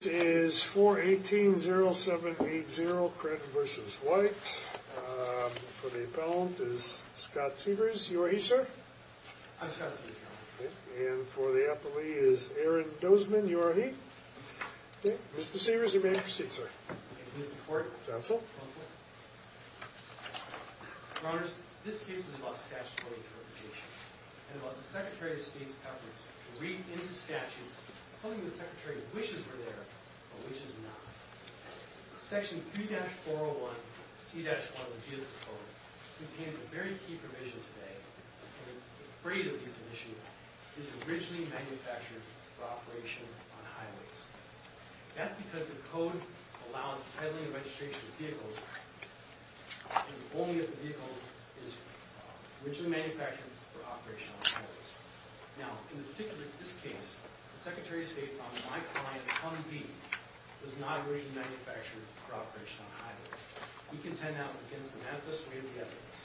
This case is 418-0780 Kren v. White. For the appellant is Scott Severs. You are he, sir? I'm Scott Severs, Your Honor. And for the appellee is Aaron Dozman. You are he? Mr. Severs, you may proceed, sir. Thank you, Mr. Court. Counsel? Counsel. Your Honors, this case is about statutory interpretation and about the Secretary of State's efforts to read into statutes something the Secretary wishes were there, but which is not. Section 3-401C-1 of the Vehicle Code contains a very key provision today that the freight of each emission is originally manufactured for operation on highways. That's because the Code allows the titling and registration of vehicles only if the vehicle is originally manufactured for operation on highways. Now, in this particular case, the Secretary of State found that my client's Humvee was not originally manufactured for operation on highways. We contend now against the manifest way of the evidence.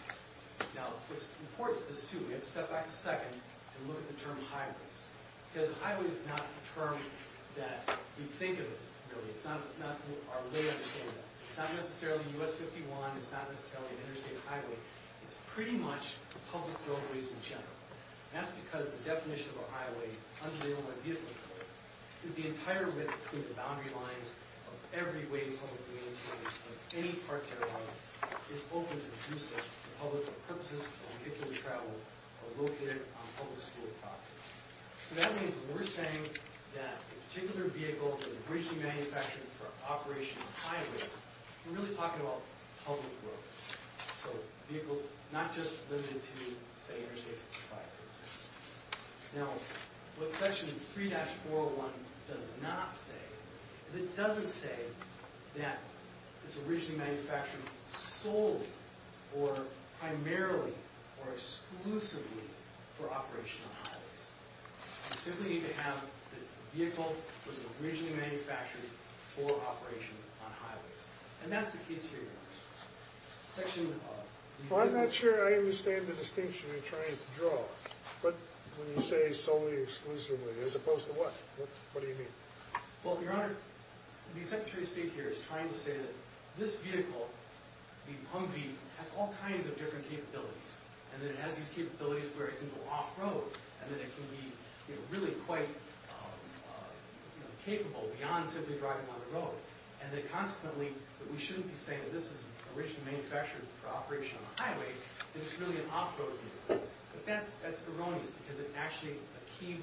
Now, it's important to assume, we have to step back a second and look at the term highways. Because a highway is not a term that we think of it, really. It's not our way of saying that. It's not necessarily U.S. 51. It's not necessarily an interstate highway. It's pretty much public roadways in general. That's because the definition of a highway, under the Illinois Vehicle Code, is the entire width between the boundary lines of every way publicly maintained of any part thereof is open to the use of for public purposes of vehicle travel or located on public school property. So that means when we're saying that a particular vehicle is originally manufactured for operation on highways, we're really talking about public roads. So vehicles not just limited to, say, Interstate 55, for instance. Now, what Section 3-401 does not say is it doesn't say that it's originally manufactured solely or primarily or exclusively for operation on highways. We simply need to have the vehicle was originally manufactured for operation on highways. And that's the case here, Your Honor. Well, I'm not sure I understand the distinction you're trying to draw. But when you say solely or exclusively as opposed to what, what do you mean? Well, Your Honor, the Secretary of State here is trying to say that this vehicle, the Humvee, has all kinds of different capabilities and that it has these capabilities where it can go off-road and that it can be really quite capable beyond simply driving on the road and that consequently that we shouldn't be saying that this is originally manufactured for operation on a highway if it's really an off-road vehicle. But that's erroneous because actually a key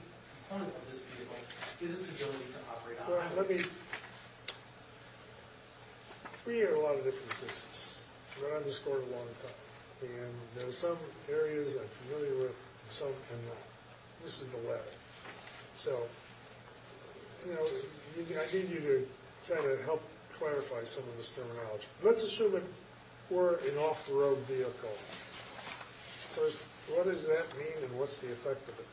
component of this vehicle is its ability to operate on highways. Well, let me – we hear a lot of different cases. We're on this Court a long time. And there are some areas I'm familiar with and some I'm not. This is the latter. So, you know, I need you to kind of help clarify some of this terminology. Let's assume it were an off-road vehicle. First, what does that mean and what's the effect of it?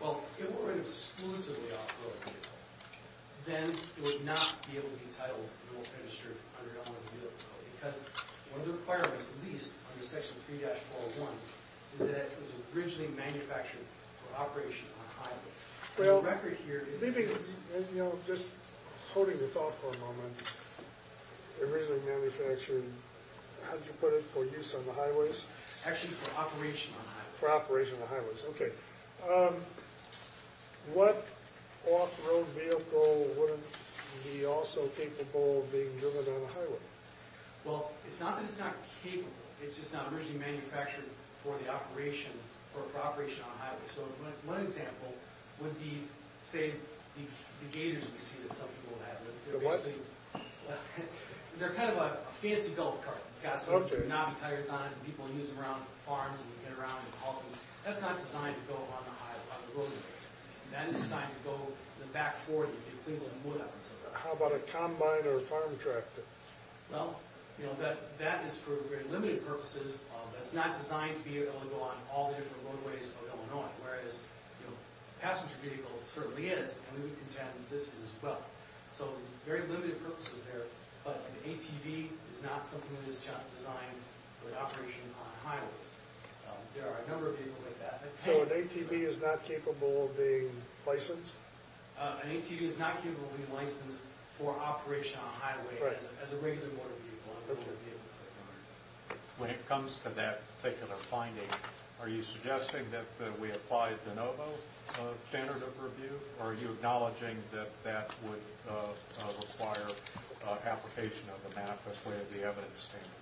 Well, if it were an exclusively off-road vehicle, then it would not be able to be titled middle of the street under that one vehicle code because one of the requirements at least under Section 3-401 is that it was originally manufactured for operation on a highway. The record here is – Just holding this off for a moment, originally manufactured, how did you put it, for use on the highways? Actually for operation on highways. For operation on the highways, okay. What off-road vehicle wouldn't be also capable of being driven on a highway? Well, it's not that it's not capable. It's just not originally manufactured for the operation or for operation on a highway. So one example would be, say, the Gators we see that some people have. The what? They're kind of a fancy golf cart. It's got some knobby tires on it and people use them around farms and they get around and haul things. That's not designed to go on the highway, on the roadways. That is designed to go back and forth and clean some wood up and stuff like that. How about a combine or a farm tractor? Well, that is for very limited purposes. That's not designed to be able to go on all the different roadways of Illinois, whereas a passenger vehicle certainly is, and we contend this is as well. So very limited purposes there. But an ATV is not something that is just designed for operation on highways. There are a number of vehicles like that. So an ATV is not capable of being licensed? An ATV is not capable of being licensed for operation on highways as a regular motor vehicle, a regular vehicle. When it comes to that particular finding, are you suggesting that we apply the NOVO standard of review, or are you acknowledging that that would require application of the MAP as part of the evidence standard?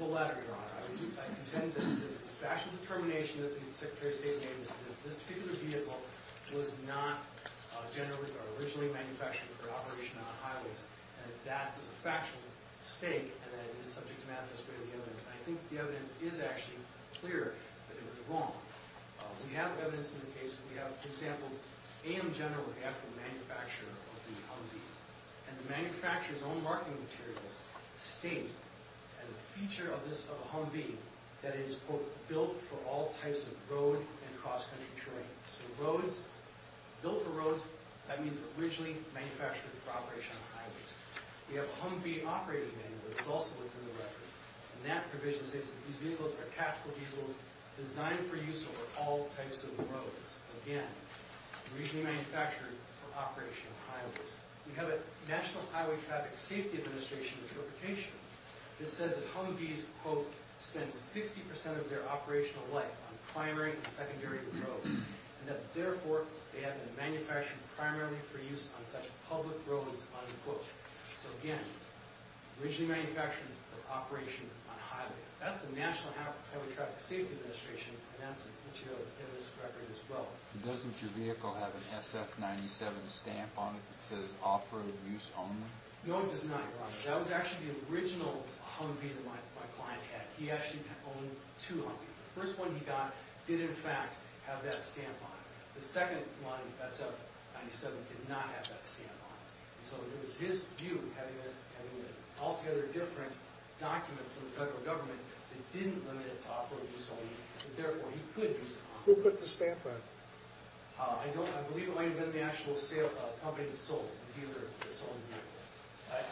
The latter, Your Honor. I contend that it was a factual determination that the Secretary of State made that this particular vehicle was not originally manufactured for operation on highways. That was a factual mistake, and it is subject to manifest by the evidence. I think the evidence is actually clear that it was wrong. We have evidence in the case, for example, AM General was the actual manufacturer of the Humvee, and the manufacturer's own marketing materials state, as a feature of a Humvee, that it is, quote, built for all types of road and cross-country touring. So roads, built for roads, that means originally manufactured for operation on highways. We have a Humvee operator's manual that was also included in the record, and that provision states that these vehicles are tactical vehicles designed for use over all types of roads. Again, originally manufactured for operation on highways. We have a National Highway Traffic Safety Administration interpretation that says that Humvees, quote, spend 60% of their operational life on primary and secondary roads, and that, therefore, they have been manufactured primarily for use on such public roads, unquote. So, again, originally manufactured for operation on highways. That's the National Highway Traffic Safety Administration, and that's the material that's in this record as well. Doesn't your vehicle have an SF-97 stamp on it that says, No, it does not, Your Honor. That was actually the original Humvee that my client had. He actually owned two Humvees. The first one he got did, in fact, have that stamp on it. The second one, SF-97, did not have that stamp on it. So it was his view, having an altogether different document from the federal government that didn't limit it to operator's only, and, therefore, he could use it. Who put the stamp on it? I believe it might have been the actual company that sold it, the dealer that sold the vehicle.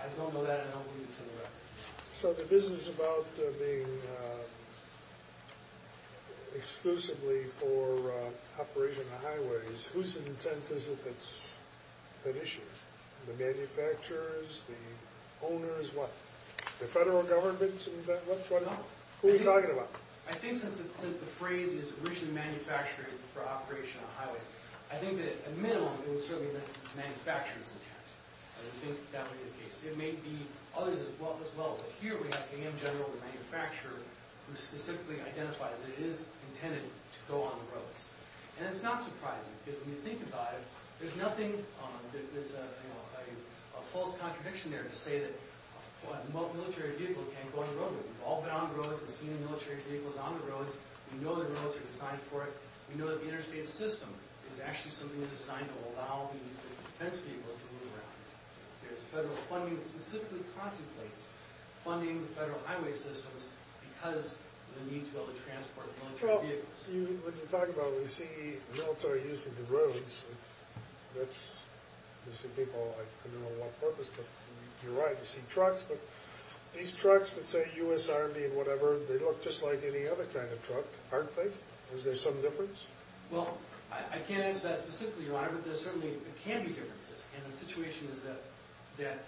I don't know that, and I don't believe it's in the record. So the business about being exclusively for operation on highways, whose intent is it that's at issue? The manufacturers? The owners? What? The federal government's intent? What is it? No. Who are you talking about? I think since the phrase is originally manufactured for operation on highways, I think that, at minimum, it was certainly the manufacturer's intent. I don't think that would be the case. It may be others as well, but here we have GM General, the manufacturer, who specifically identifies that it is intended to go on the roads. And it's not surprising, because when you think about it, there's nothing that's a false contradiction there to say that a military vehicle can't go on the roadway. We've all been on the roads and seen military vehicles on the roads. We know the roads are designed for it. We know that the interstate system is actually something that is designed to allow the defense vehicles to move around. There's federal funding that specifically contemplates funding the federal highway systems because of the need to be able to transport military vehicles. Well, when you talk about it, we see military using the roads. You see people, I don't know what purpose, but you're right. You see trucks, but these trucks that say U.S. Army and whatever, they look just like any other kind of truck, aren't they? Is there some difference? Well, I can't answer that specifically, Your Honor, but there certainly can be differences, and the situation is that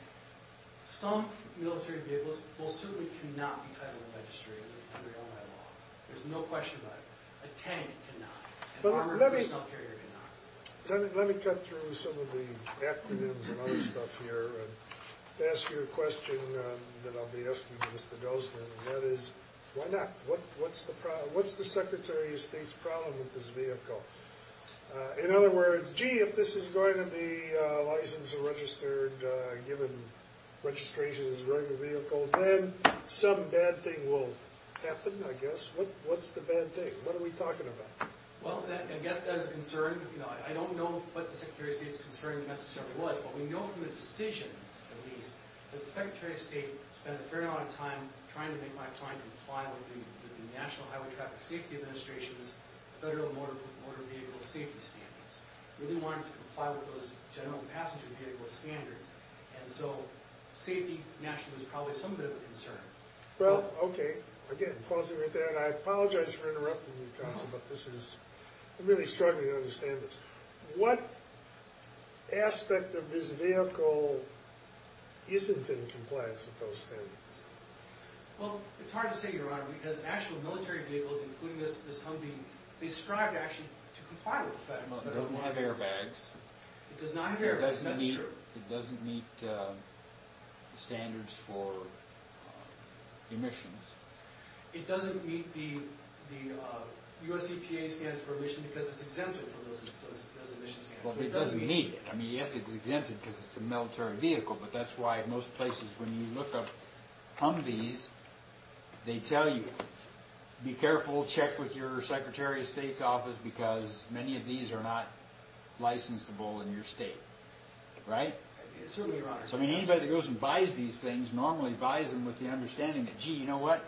some military vehicles will certainly cannot be titled and registrated under Illinois law. There's no question about it. A tank cannot. An armored personnel carrier cannot. Let me cut through some of the acronyms and other stuff here and ask you a question that I'll be asking Mr. Gosselin, and that is, why not? What's the Secretary of State's problem with this vehicle? In other words, gee, if this is going to be licensed and registered, given registration as a regular vehicle, then some bad thing will happen, I guess. What's the bad thing? What are we talking about? Well, I guess that is a concern. I don't know what the Secretary of State's concern necessarily was, but we know from the decision, at least, that the Secretary of State spent a fair amount of time trying to make my client comply with the National Highway Traffic Safety Administration's Federal Motor Vehicle Safety Standards. He really wanted to comply with those General Passenger Vehicle Standards, and so safety nationally is probably some bit of a concern. Well, okay. Again, pausing right there, and I apologize for interrupting you, Counsel, but this is, I'm really struggling to understand this. What aspect of this vehicle isn't in compliance with those standards? Well, it's hard to say, Your Honor, because actual military vehicles, including this Humvee, they strive, actually, to comply with the Federal Motor Vehicle Standards. It doesn't have airbags. It does not have airbags, that's true. It doesn't meet standards for emissions. It doesn't meet the U.S. EPA standards for emissions because it's exempted from those emission standards. Well, it doesn't meet it. I mean, yes, it's exempted because it's a military vehicle, but that's why most places, when you look up Humvees, they tell you, be careful, check with your Secretary of State's office, because many of these are not licensable in your state, right? Certainly, Your Honor. I mean, anybody that goes and buys these things normally buys them with the understanding that, gee, you know what,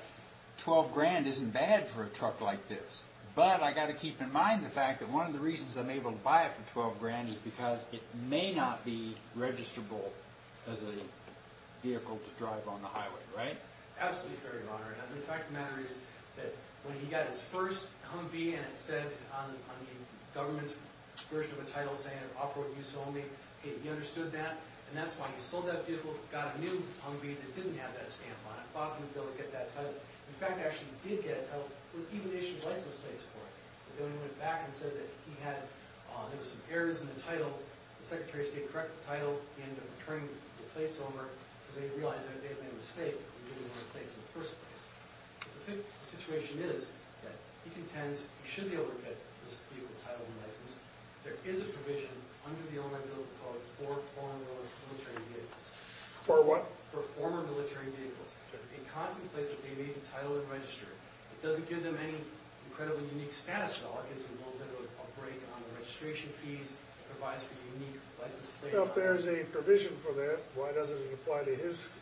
$12,000 isn't bad for a truck like this, but I've got to keep in mind the fact that one of the reasons I'm able to buy it for $12,000 is because it may not be registrable as a vehicle to drive on the highway, right? Absolutely fair, Your Honor, and the fact of the matter is that when he got his first Humvee and it said on the government's version of the title saying, he understood that, and that's why he sold that vehicle, got a new Humvee that didn't have that stamp on it, thought he would be able to get that title. In fact, he actually did get a title with even issued license plates for it. But then he went back and said that he had, there were some errors in the title. The Secretary of State corrected the title. He ended up returning the plates over, because then he realized that he made a mistake in giving him the plates in the first place. The situation is that he contends he should be able to get this vehicle titled and licensed. There is a provision under the Illinois Bill of Rights for foreign military vehicles. For what? For former military vehicles. It contemplates that they may be titled and registered. It doesn't give them any incredibly unique status at all. It gives them a little bit of a break on the registration fees. It provides for unique license plates. Well, if there's a provision for that, why doesn't it apply to his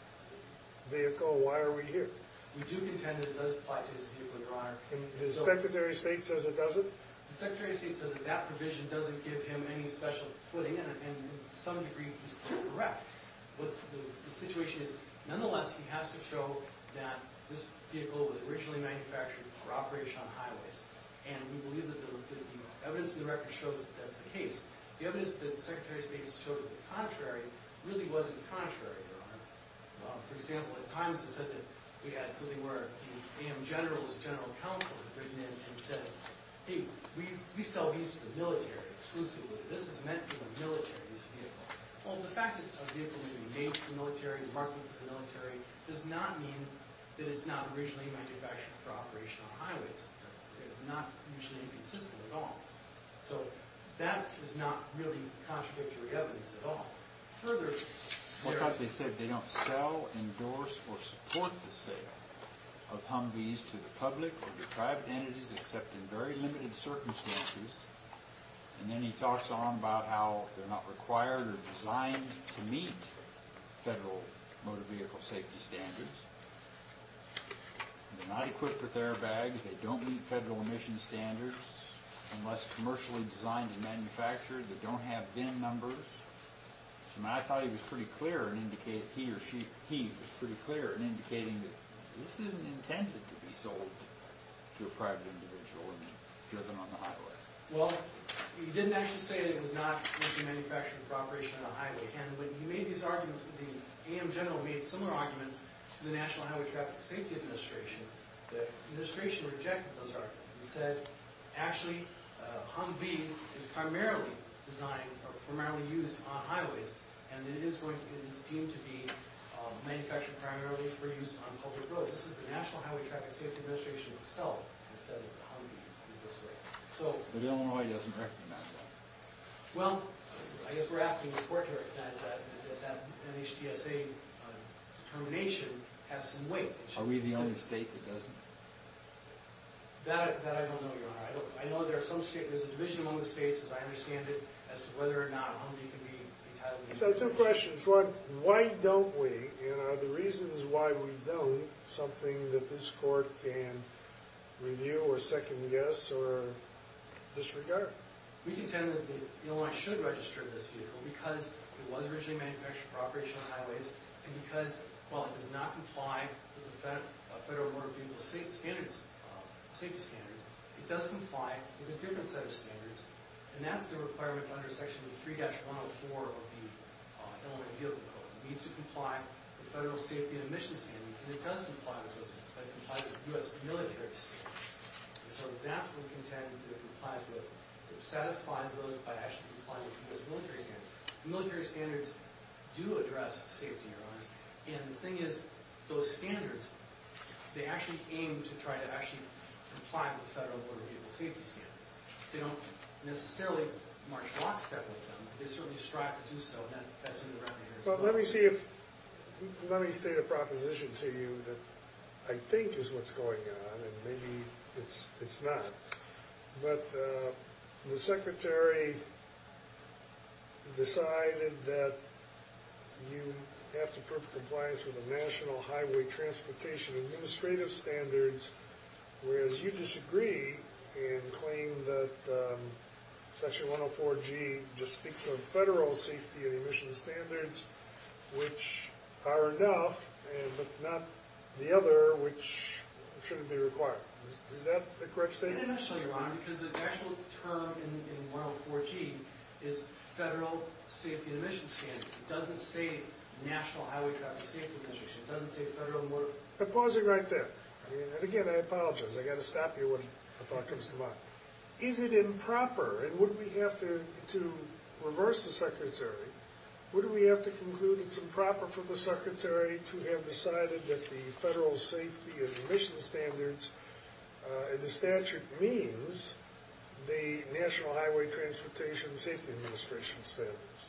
vehicle? Why are we here? We do contend that it does apply to his vehicle, Your Honor. And the Secretary of State says it doesn't? The Secretary of State says that that provision doesn't give him any special footing. And to some degree, he's correct. But the situation is, nonetheless, he has to show that this vehicle was originally manufactured for operation on highways. And we believe that the evidence in the record shows that that's the case. The evidence that the Secretary of State has shown to be contrary really wasn't contrary, Your Honor. For example, at times it said that we had something where the AM General's general counsel had written in and said, Hey, we sell these to the military exclusively. This is meant for the military, this vehicle. Well, the fact that a vehicle is made for the military, marketed for the military, does not mean that it's not originally manufactured for operation on highways. It's not usually inconsistent at all. So that is not really contradictory evidence at all. Further, they said they don't sell, endorse, or support the sale of Humvees to the public or to private entities except in very limited circumstances. And then he talks on about how they're not required or designed to meet federal motor vehicle safety standards. They're not equipped with airbags. They don't meet federal emission standards. Unless commercially designed and manufactured, they don't have VIN numbers. I thought he was pretty clear in indicating that this isn't intended to be sold to a private individual and given on the highway. Well, he didn't actually say that it was not meant to be manufactured for operation on a highway. And when he made these arguments, the AM General made similar arguments to the National Highway Traffic Safety Administration. The administration rejected those arguments and said, Actually, Humvee is primarily designed or primarily used on highways, and it is deemed to be manufactured primarily for use on public roads. This is the National Highway Traffic Safety Administration itself that said that Humvee is this way. But Illinois doesn't recognize that. Well, I guess we're asking the court to recognize that that NHTSA determination has some weight. Are we the only state that doesn't? That I don't know, Your Honor. I know there's a division among the states, as I understand it, as to whether or not Humvee can be entitled to VIN. So two questions. One, why don't we, and are the reasons why we don't something that this court can review or second guess or disregard? We contend that Illinois should register this vehicle because it was originally manufactured for operation on highways and because, while it does not comply with the Federal Motor Vehicle Safety Standards, it does comply with a different set of standards, and that's the requirement under Section 3-104 of the Illinois Vehicle Code. It needs to comply with federal safety and emissions standards, and it does comply with those standards, but it complies with U.S. military standards. So that's what we contend that it complies with. It satisfies those by actually complying with U.S. military standards. Military standards do address safety, Your Honor. And the thing is, those standards, they actually aim to try to actually comply with the Federal Motor Vehicle Safety Standards. They don't necessarily march lockstep with them. They certainly strive to do so, and that's in the recommendations. Well, let me state a proposition to you that I think is what's going on, and maybe it's not. But the Secretary decided that you have to prove compliance with the National Highway Transportation Administrative Standards, whereas you disagree and claim that Section 104-G just speaks of federal safety and emissions standards, which are enough, but not the other, which shouldn't be required. Is that the correct statement? It is, Your Honor, because the actual term in 104-G is federal safety and emissions standards. It doesn't say National Highway Transportation Administration. It doesn't say Federal Motor Vehicle Safety Standards. I'm pausing right there. And again, I apologize. I've got to stop you when a thought comes to mind. Is it improper, and would we have to reverse the Secretary, would we have to conclude it's improper for the Secretary to have decided that the federal safety and emissions standards in the statute means the National Highway Transportation Safety Administration standards?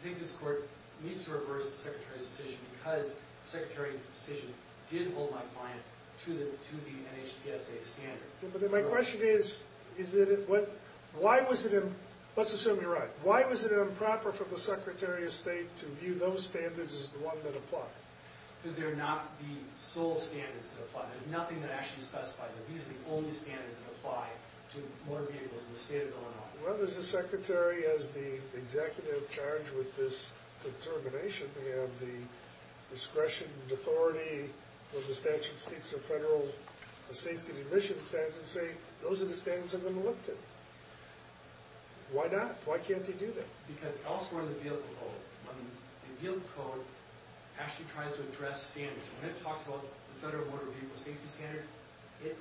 I think this Court needs to reverse the Secretary's decision because the Secretary's decision did hold my client to the NHTSA standards. My question is, let's assume you're right. Why was it improper for the Secretary of State to view those standards as the ones that apply? Because they're not the sole standards that apply. There's nothing that actually specifies that these are the only standards that apply to motor vehicles in the state of Illinois. Well, as the Secretary, as the executive in charge with this determination, we have the discretion and authority when the statute speaks of federal safety and emissions standards to say those are the standards I'm going to look to. Why not? Why can't they do that? Because elsewhere in the vehicle code, when the vehicle code actually tries to address standards, when it talks about the Federal Motor Vehicle Safety Standards, it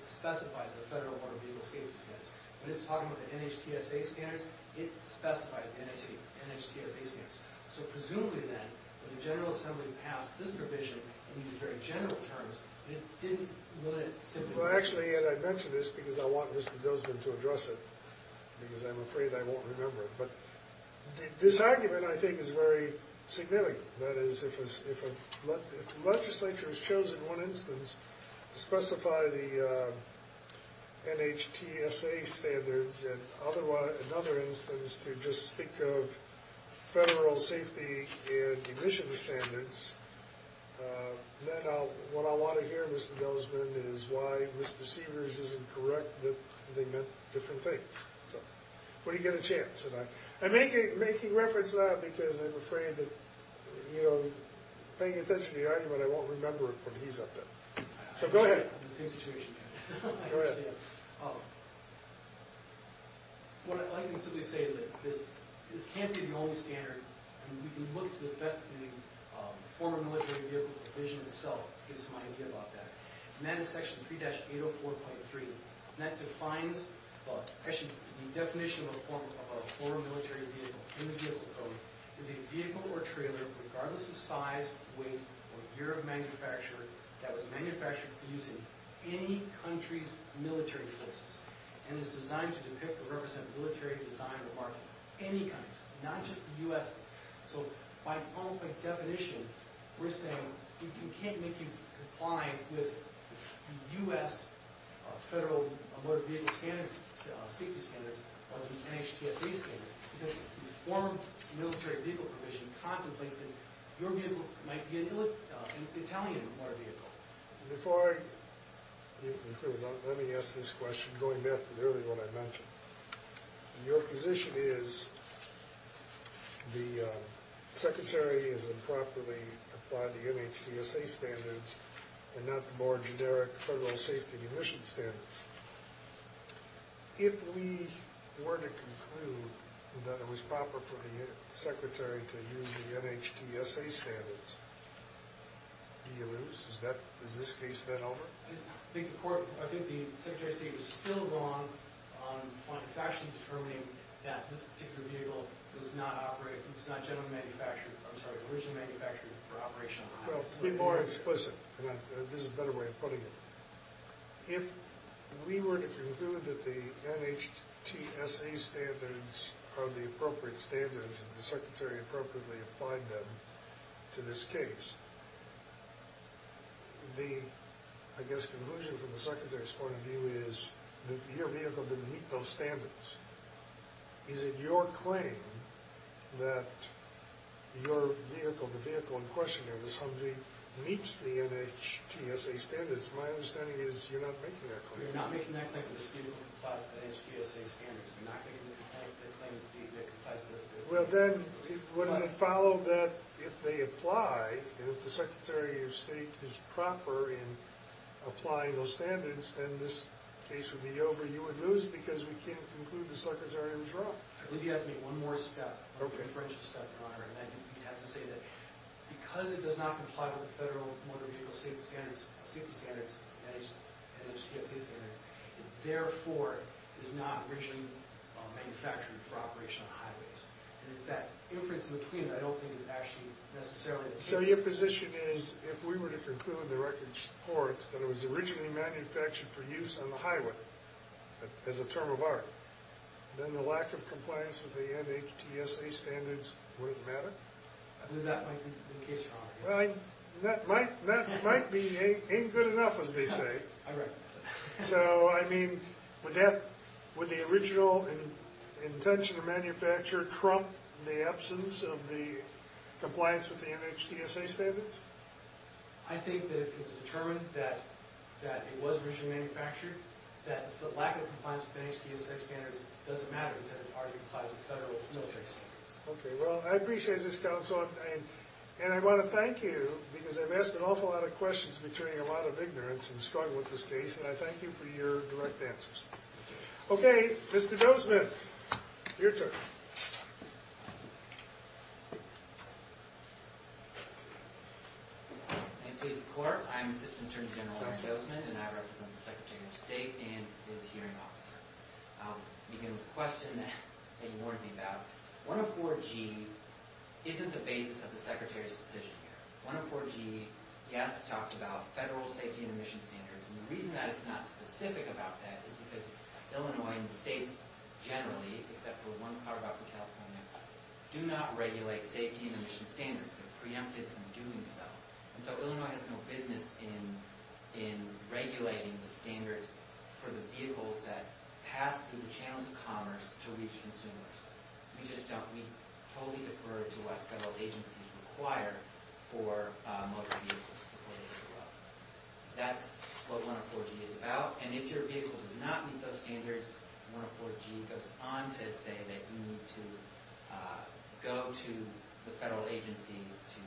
specifies the Federal Motor Vehicle Safety Standards. When it's talking about the NHTSA standards, it specifies the NHTSA standards. So presumably, then, when the General Assembly passed this provision in these very general terms, it didn't let it simply… Well, actually, Ed, I mention this because I want Mr. Dozman to address it because I'm afraid I won't remember it. But this argument, I think, is very significant. That is, if the legislature has chosen one instance to specify the NHTSA standards and another instance to just speak of federal safety and emissions standards, then what I want to hear, Mr. Dozman, is why Mr. Sievers isn't correct that they meant different things. So what do you get a chance? And making reference to that because I'm afraid that, you know, paying attention to the argument, I won't remember it when he's up there. So go ahead. I'm in the same situation. Go ahead. What I can simply say is that this can't be the only standard. I mean, we can look to the effect of the former military vehicle provision itself to get some idea about that. And that is Section 3-804.3. And that defines, well, actually, the definition of a former military vehicle in the Vehicle Code is a vehicle or trailer, regardless of size, weight, or year of manufacture, that was manufactured using any country's military forces and is designed to depict or represent military design or markets of any country, not just the U.S.'s. So almost by definition, we're saying you can't make you comply with the U.S. federal motor vehicle standards, or the NHTSA standards because the former military vehicle provision contemplates that your vehicle might be an Italian motor vehicle. Before I conclude, let me ask this question, going back to nearly what I mentioned. Your position is the Secretary has improperly applied the NHTSA standards and not the more generic federal safety and emissions standards. If we were to conclude that it was proper for the Secretary to use the NHTSA standards, do you lose? Is this case then over? I think the Secretary of State is still wrong on factually determining that this particular vehicle was not originally manufactured for operation in the United States. Well, to be more explicit, and this is a better way of putting it, if we were to conclude that the NHTSA standards are the appropriate standards and the Secretary appropriately applied them to this case, the, I guess, conclusion from the Secretary's point of view is that your vehicle didn't meet those standards. Is it your claim that your vehicle, the vehicle in question, or that somebody meets the NHTSA standards? My understanding is you're not making that claim. You're not making that claim that this vehicle complies with NHTSA standards. You're not making the claim that it complies with NHTSA standards. Well, then, wouldn't it follow that if they apply, and if the Secretary of State is proper in applying those standards, then this case would be over. You would lose because we can't conclude the suckers are in the draw. I believe you have to make one more step, one more inferential step, Your Honor, and that you have to say that because it does not comply with the federal motor vehicle safety standards, safety standards, NHTSA standards, it therefore is not originally manufactured for operation on highways. And it's that inference in between that I don't think is actually necessarily the case. So your position is if we were to conclude the record supports that it was originally manufactured for use on the highway as a term of art, then the lack of compliance with the NHTSA standards wouldn't matter? Then that might be the case for all of us. That might be ain't good enough, as they say. I recognize that. So, I mean, would that, would the original intention of manufacture trump the absence of the compliance with the NHTSA standards? I think that if it was determined that it was originally manufactured, that the lack of compliance with NHTSA standards doesn't matter because it already complies with federal military standards. Okay, well, I appreciate this, Counsel. And I want to thank you because I've asked an awful lot of questions between a lot of ignorance and struggle with this case, and I thank you for your direct answers. Okay, Mr. Gozeman. Your turn. I'm Assistant Attorney General Larry Gozeman, and I represent the Secretary of State and his hearing officer. You can question that and warn me about it. 104G isn't the basis of the Secretary's decision here. 104G, yes, talks about federal safety and emissions standards, and the reason that it's not specific about that is because Illinois and the states generally, except for one, Colorado and California, do not regulate safety and emissions standards. They're preempted from doing so. And so Illinois has no business in regulating the standards for the vehicles that pass through the channels of commerce to reach consumers. We just don't. We totally defer to what federal agencies require for motor vehicles. That's what 104G is about. And if your vehicle does not meet those standards, 104G goes on to say that you need to go to the federal agencies to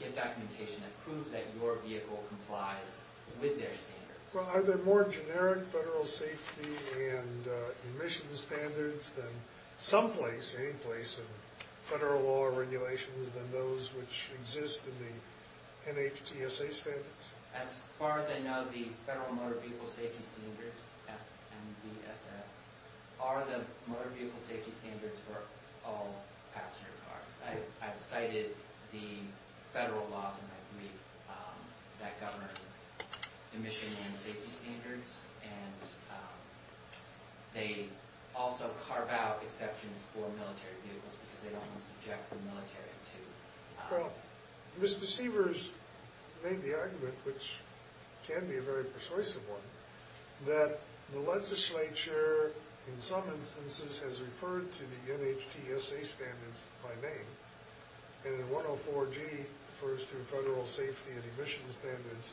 get documentation that proves that your vehicle complies with their standards. Well, are there more generic federal safety and emissions standards than those which exist in the NHTSA standards? As far as I know, the Federal Motor Vehicle Safety Standards, FMVSS, are the motor vehicle safety standards for all passenger cars. I've cited the federal laws that govern emission and safety standards, and they also carve out exceptions for military vehicles because they almost object the military to them. Well, Mr. Seavers made the argument, which can be a very persuasive one, that the legislature, in some instances, has referred to the NHTSA standards by name, and that 104G refers to federal safety and emissions standards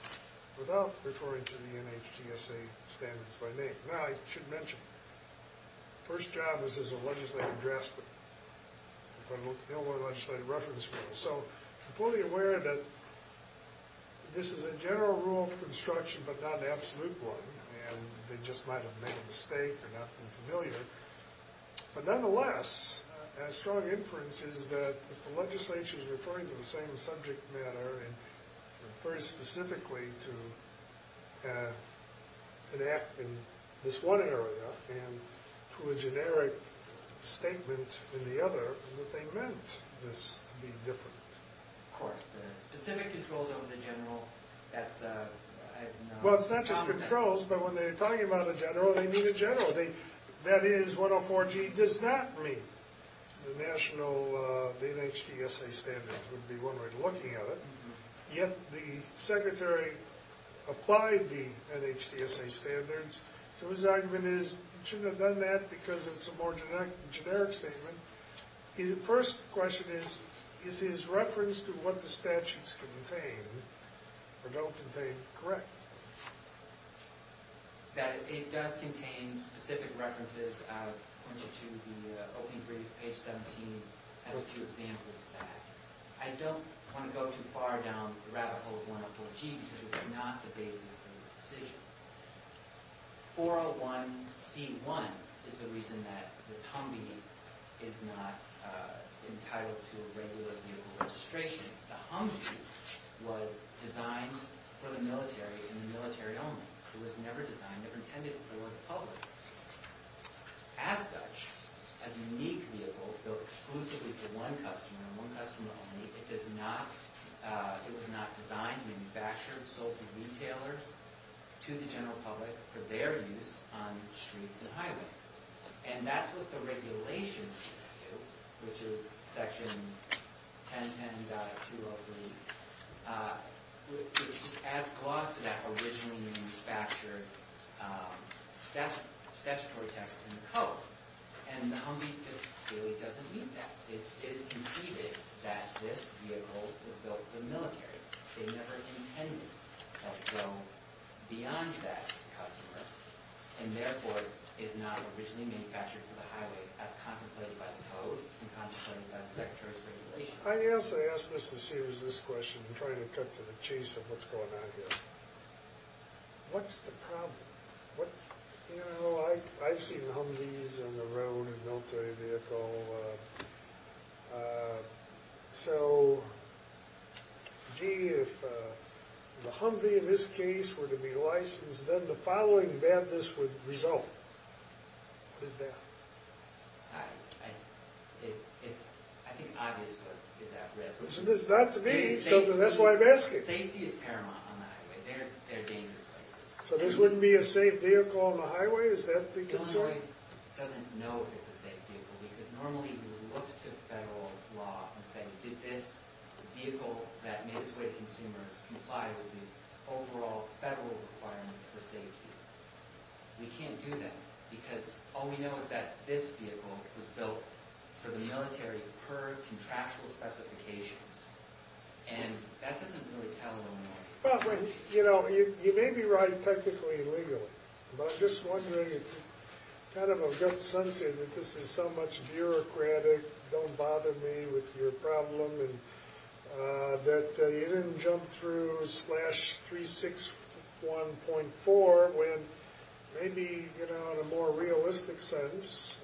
without referring to the NHTSA standards by name. Now, I should mention, the first job is as a legislative draftsman. They don't want a legislative reference rule. So I'm fully aware that this is a general rule of construction but not an absolute one, and they just might have made a mistake or not been familiar. But nonetheless, a strong inference is that if the legislature is referring to the same subject matter and refers specifically to an act in this one area and to a generic statement in the other, that they meant this to be different. Of course. The specific controls over the general, that's not common. Well, it's not just controls, but when they're talking about a general, they mean a general. That is, 104G does not mean the NHTSA standards would be one way of looking at it. Yet the secretary applied the NHTSA standards. So his argument is he shouldn't have done that because it's a more generic statement. His first question is, is his reference to what the statutes contain or don't contain correct? That it does contain specific references, I'll point you to the opening brief, page 17, has a few examples of that. I don't want to go too far down the rabbit hole of 104G because it's not the basis of the decision. 401C1 is the reason that this Humvee is not entitled to a regular vehicle registration. The Humvee was designed for the military and the military only. It was never designed or intended for the public. As such, a unique vehicle built exclusively for one customer and one customer only, it does not, it was not designed, manufactured, sold to retailers, to the general public for their use on streets and highways. And that's what the regulations used to, which is section 1010.203, which just adds clause to that originally manufactured statutory text in the code. And the Humvee just really doesn't need that. It is conceded that this vehicle was built for the military. It never intended to go beyond that customer and therefore is not originally manufactured for the highway as contemplated by the code and contemplated by the Secretary's regulations. I asked Mr. Sears this question, I'm trying to cut to the chase of what's going on here. What's the problem? You know, I've seen Humvees on the road in a military vehicle. So, gee, if the Humvee in this case were to be licensed, then the following badness would result. What is that? I think it's obvious what is at risk. It's not to me. That's why I'm asking. Safety is paramount on the highway. They're dangerous places. So this wouldn't be a safe vehicle on the highway? Is that the concern? Illinois doesn't know it's a safe vehicle. Normally we would look to federal law and say, did this vehicle that made its way to consumers comply with the overall federal requirements for safety? We can't do that because all we know is that this vehicle was built for the military per contractual specifications. And that doesn't really tell Illinois. Well, you know, you may be right technically and legally. But I'm just wondering, it's kind of a gut sense that this is so much bureaucratic, don't bother me with your problem, that you didn't jump through slash 361.4 when maybe, you know, in a more realistic sense,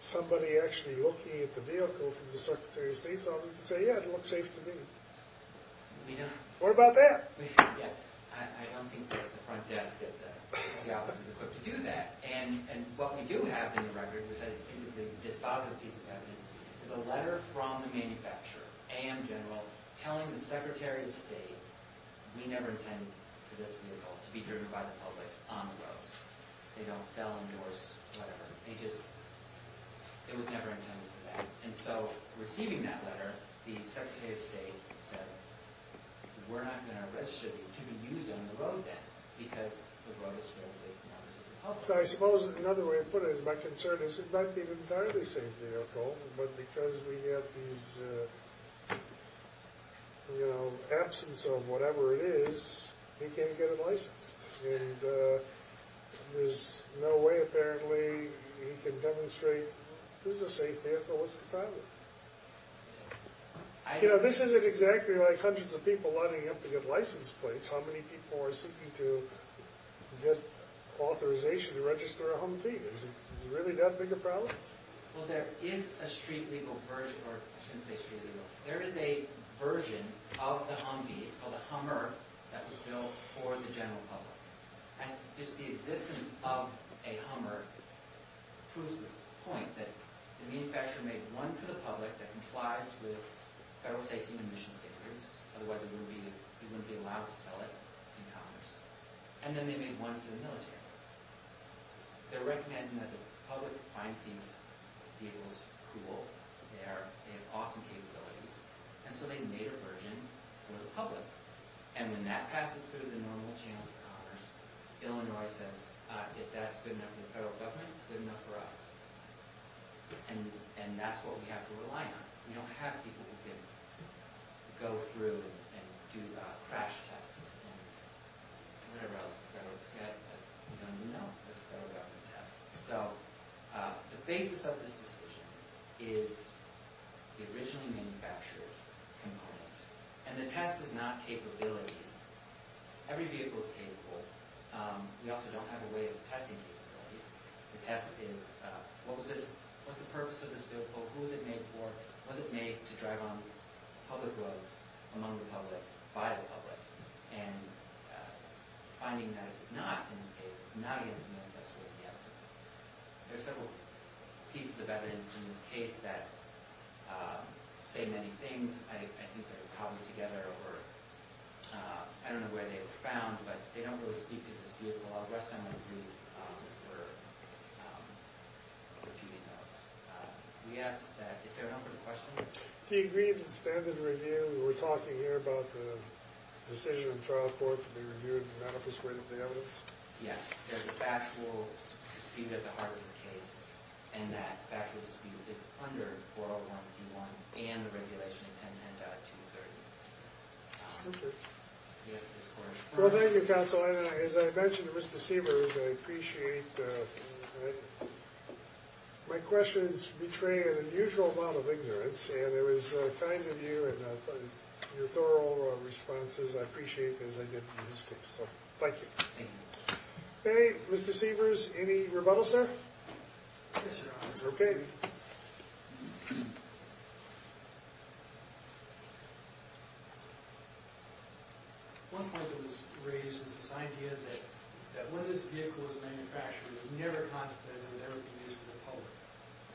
somebody actually looking at the vehicle from the Secretary of State's office could say, yeah, it looks safe to me. What about that? I don't think the front desk at the office is equipped to do that. And what we do have in the record, which I think is the dispositive piece of evidence, is a letter from the manufacturer, AM General, telling the Secretary of State, we never intend for this vehicle to be driven by the public on the roads. They don't sell, endorse, whatever. They just, it was never intended for that. And so receiving that letter, the Secretary of State said, we're not going to register these to be used on the road then, because the road is fairly public. So I suppose another way of putting it is my concern is it might be an entirely safe vehicle, but because we have these, you know, absence of whatever it is, he can't get it licensed. And there's no way, apparently, he can demonstrate, this is a safe vehicle, what's the problem? You know, this isn't exactly like hundreds of people lining up to get license plates. How many people are seeking to get authorization to register a Humvee? Is it really that big a problem? Well, there is a street legal version, or I shouldn't say street legal. There is a version of the Humvee, it's called a Hummer, that was built for the general public. And just the existence of a Hummer proves the point that the manufacturer made one for the public that complies with federal safety and emissions standards, otherwise it wouldn't be allowed to sell it in commerce. And then they made one for the military. They're recognizing that the public finds these vehicles cool. They have awesome capabilities. And so they made a version for the public. And when that passes through the normal channels of commerce, Illinois says, if that's good enough for the federal government, it's good enough for us. And that's what we have to rely on. We don't have people who can go through and do crash tests and whatever else the federal government does. We don't even know the federal government tests. So the basis of this decision is the originally manufactured component. And the test is not capabilities. Every vehicle is capable. We also don't have a way of testing capabilities. The test is, what's the purpose of this vehicle? Who is it made for? Was it made to drive on public roads among the public, by the public? And finding that it's not, in this case, it's not as manifest with the evidence. There's several pieces of evidence in this case that say many things. I think they're cobbled together, or I don't know where they were found, but they don't really speak to this vehicle. I'll rest on my feet for repeating those. We ask that if there are no further questions. He agreed to the standard review. We were talking here about the decision in trial court to be reviewed in the manifest way of the evidence. Yes. There's a factual dispute at the heart of this case, and that factual dispute is under 401c1 and the regulation in 1010.230. Okay. Well, thank you, counsel. As I mentioned to Mr. Sievers, I appreciate my questions betray an unusual amount of ignorance. And it was kind of you and your thorough responses. I appreciate it as I did in this case. So thank you. Okay. Mr. Sievers, any rebuttal, sir? Yes, Your Honor. Okay. One point that was raised was this idea that when this vehicle was manufactured, it was never contemplated that it would ever be used for the public.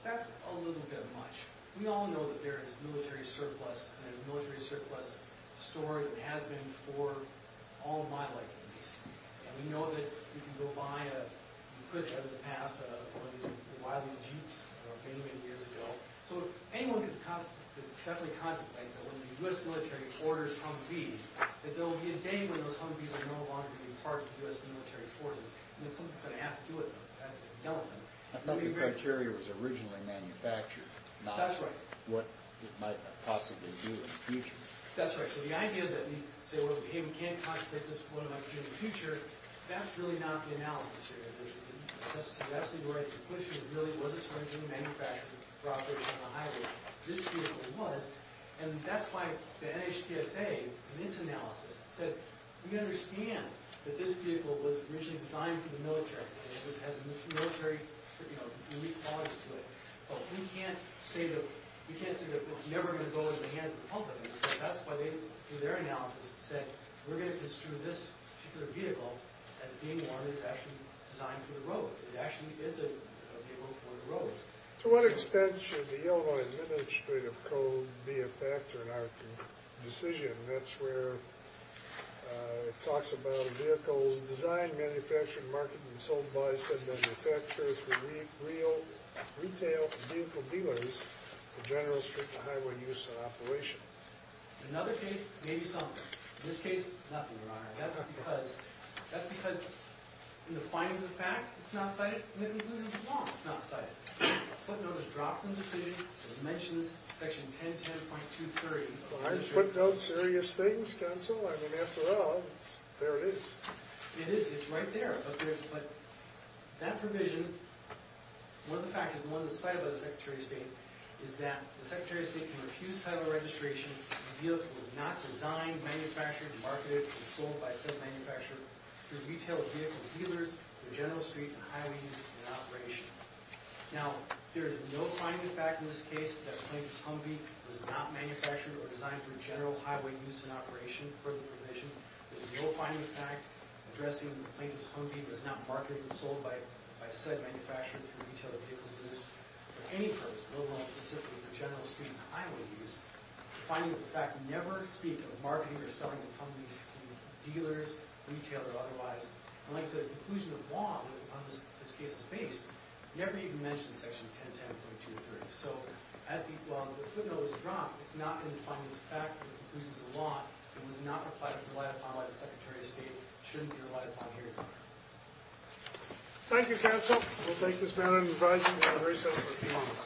That's a little bit much. We all know that there is a military surplus, and a military surplus store that has been for all of my life in D.C. And we know that you can go buy a, you could have in the past, one of these Wiley's Jeeps many, many years ago. So anyone can certainly contemplate that when the U.S. military orders Humvees, that there will be a day when those Humvees are no longer going to be part of the U.S. military forces. And that someone's going to have to do it. I thought the criteria was originally manufactured. That's right. Not what it might possibly do in the future. That's right. So the idea that we say, hey, we can't contemplate this, what it might do in the future, that's really not the analysis here. That's the equation that really was a search in the manufacturing properties on the highways. This vehicle was. And that's why the NHTSA in its analysis said, we understand that this vehicle was originally designed for the military and it has military unique qualities to it. But we can't say that it's never going to go into the hands of the public. That's why they, through their analysis, said we're going to construe this particular vehicle as being one that's actually designed for the roads. It actually is a vehicle for the roads. To what extent should the Illinois Administrative Code be a factor in our decision? That's where it talks about vehicles designed, manufactured, marketed, and sold by said manufacturers for retail vehicle dealers for general street and highway use and operation. In another case, maybe some. In this case, nothing, Your Honor. That's because in the findings of fact, it's not cited. It's not cited. Footnotes drop from the decision. It mentions section 1010.230. Footnotes, serious things, counsel. I mean, after all, there it is. It is. It's right there. But that provision, one of the factors, one that's cited by the Secretary of State, is that the Secretary of State can refuse federal registration if a vehicle is not designed, manufactured, marketed, and sold by said manufacturer for retail vehicle dealers for general street and highway use and operation. Now, there is no finding of fact in this case that Plaintiff's Humvee was not manufactured or designed for general highway use and operation for the provision. There's no finding of fact addressing Plaintiff's Humvee was not marketed and sold by said manufacturer for retail vehicle dealers for any purpose, no longer specifically for general street and highway use. The findings of fact never speak of marketing or selling the Humvees to dealers, retail, or otherwise. And like I said, the conclusion of law on this case is based. It never even mentions section 1010.230. So, as the footnotes drop, it's not in the findings of fact or the conclusions of law that it was not applied or relied upon by the Secretary of State. It shouldn't be relied upon here. Thank you, counsel. We'll take this matter into the bridesmaids and have a recess for a few moments.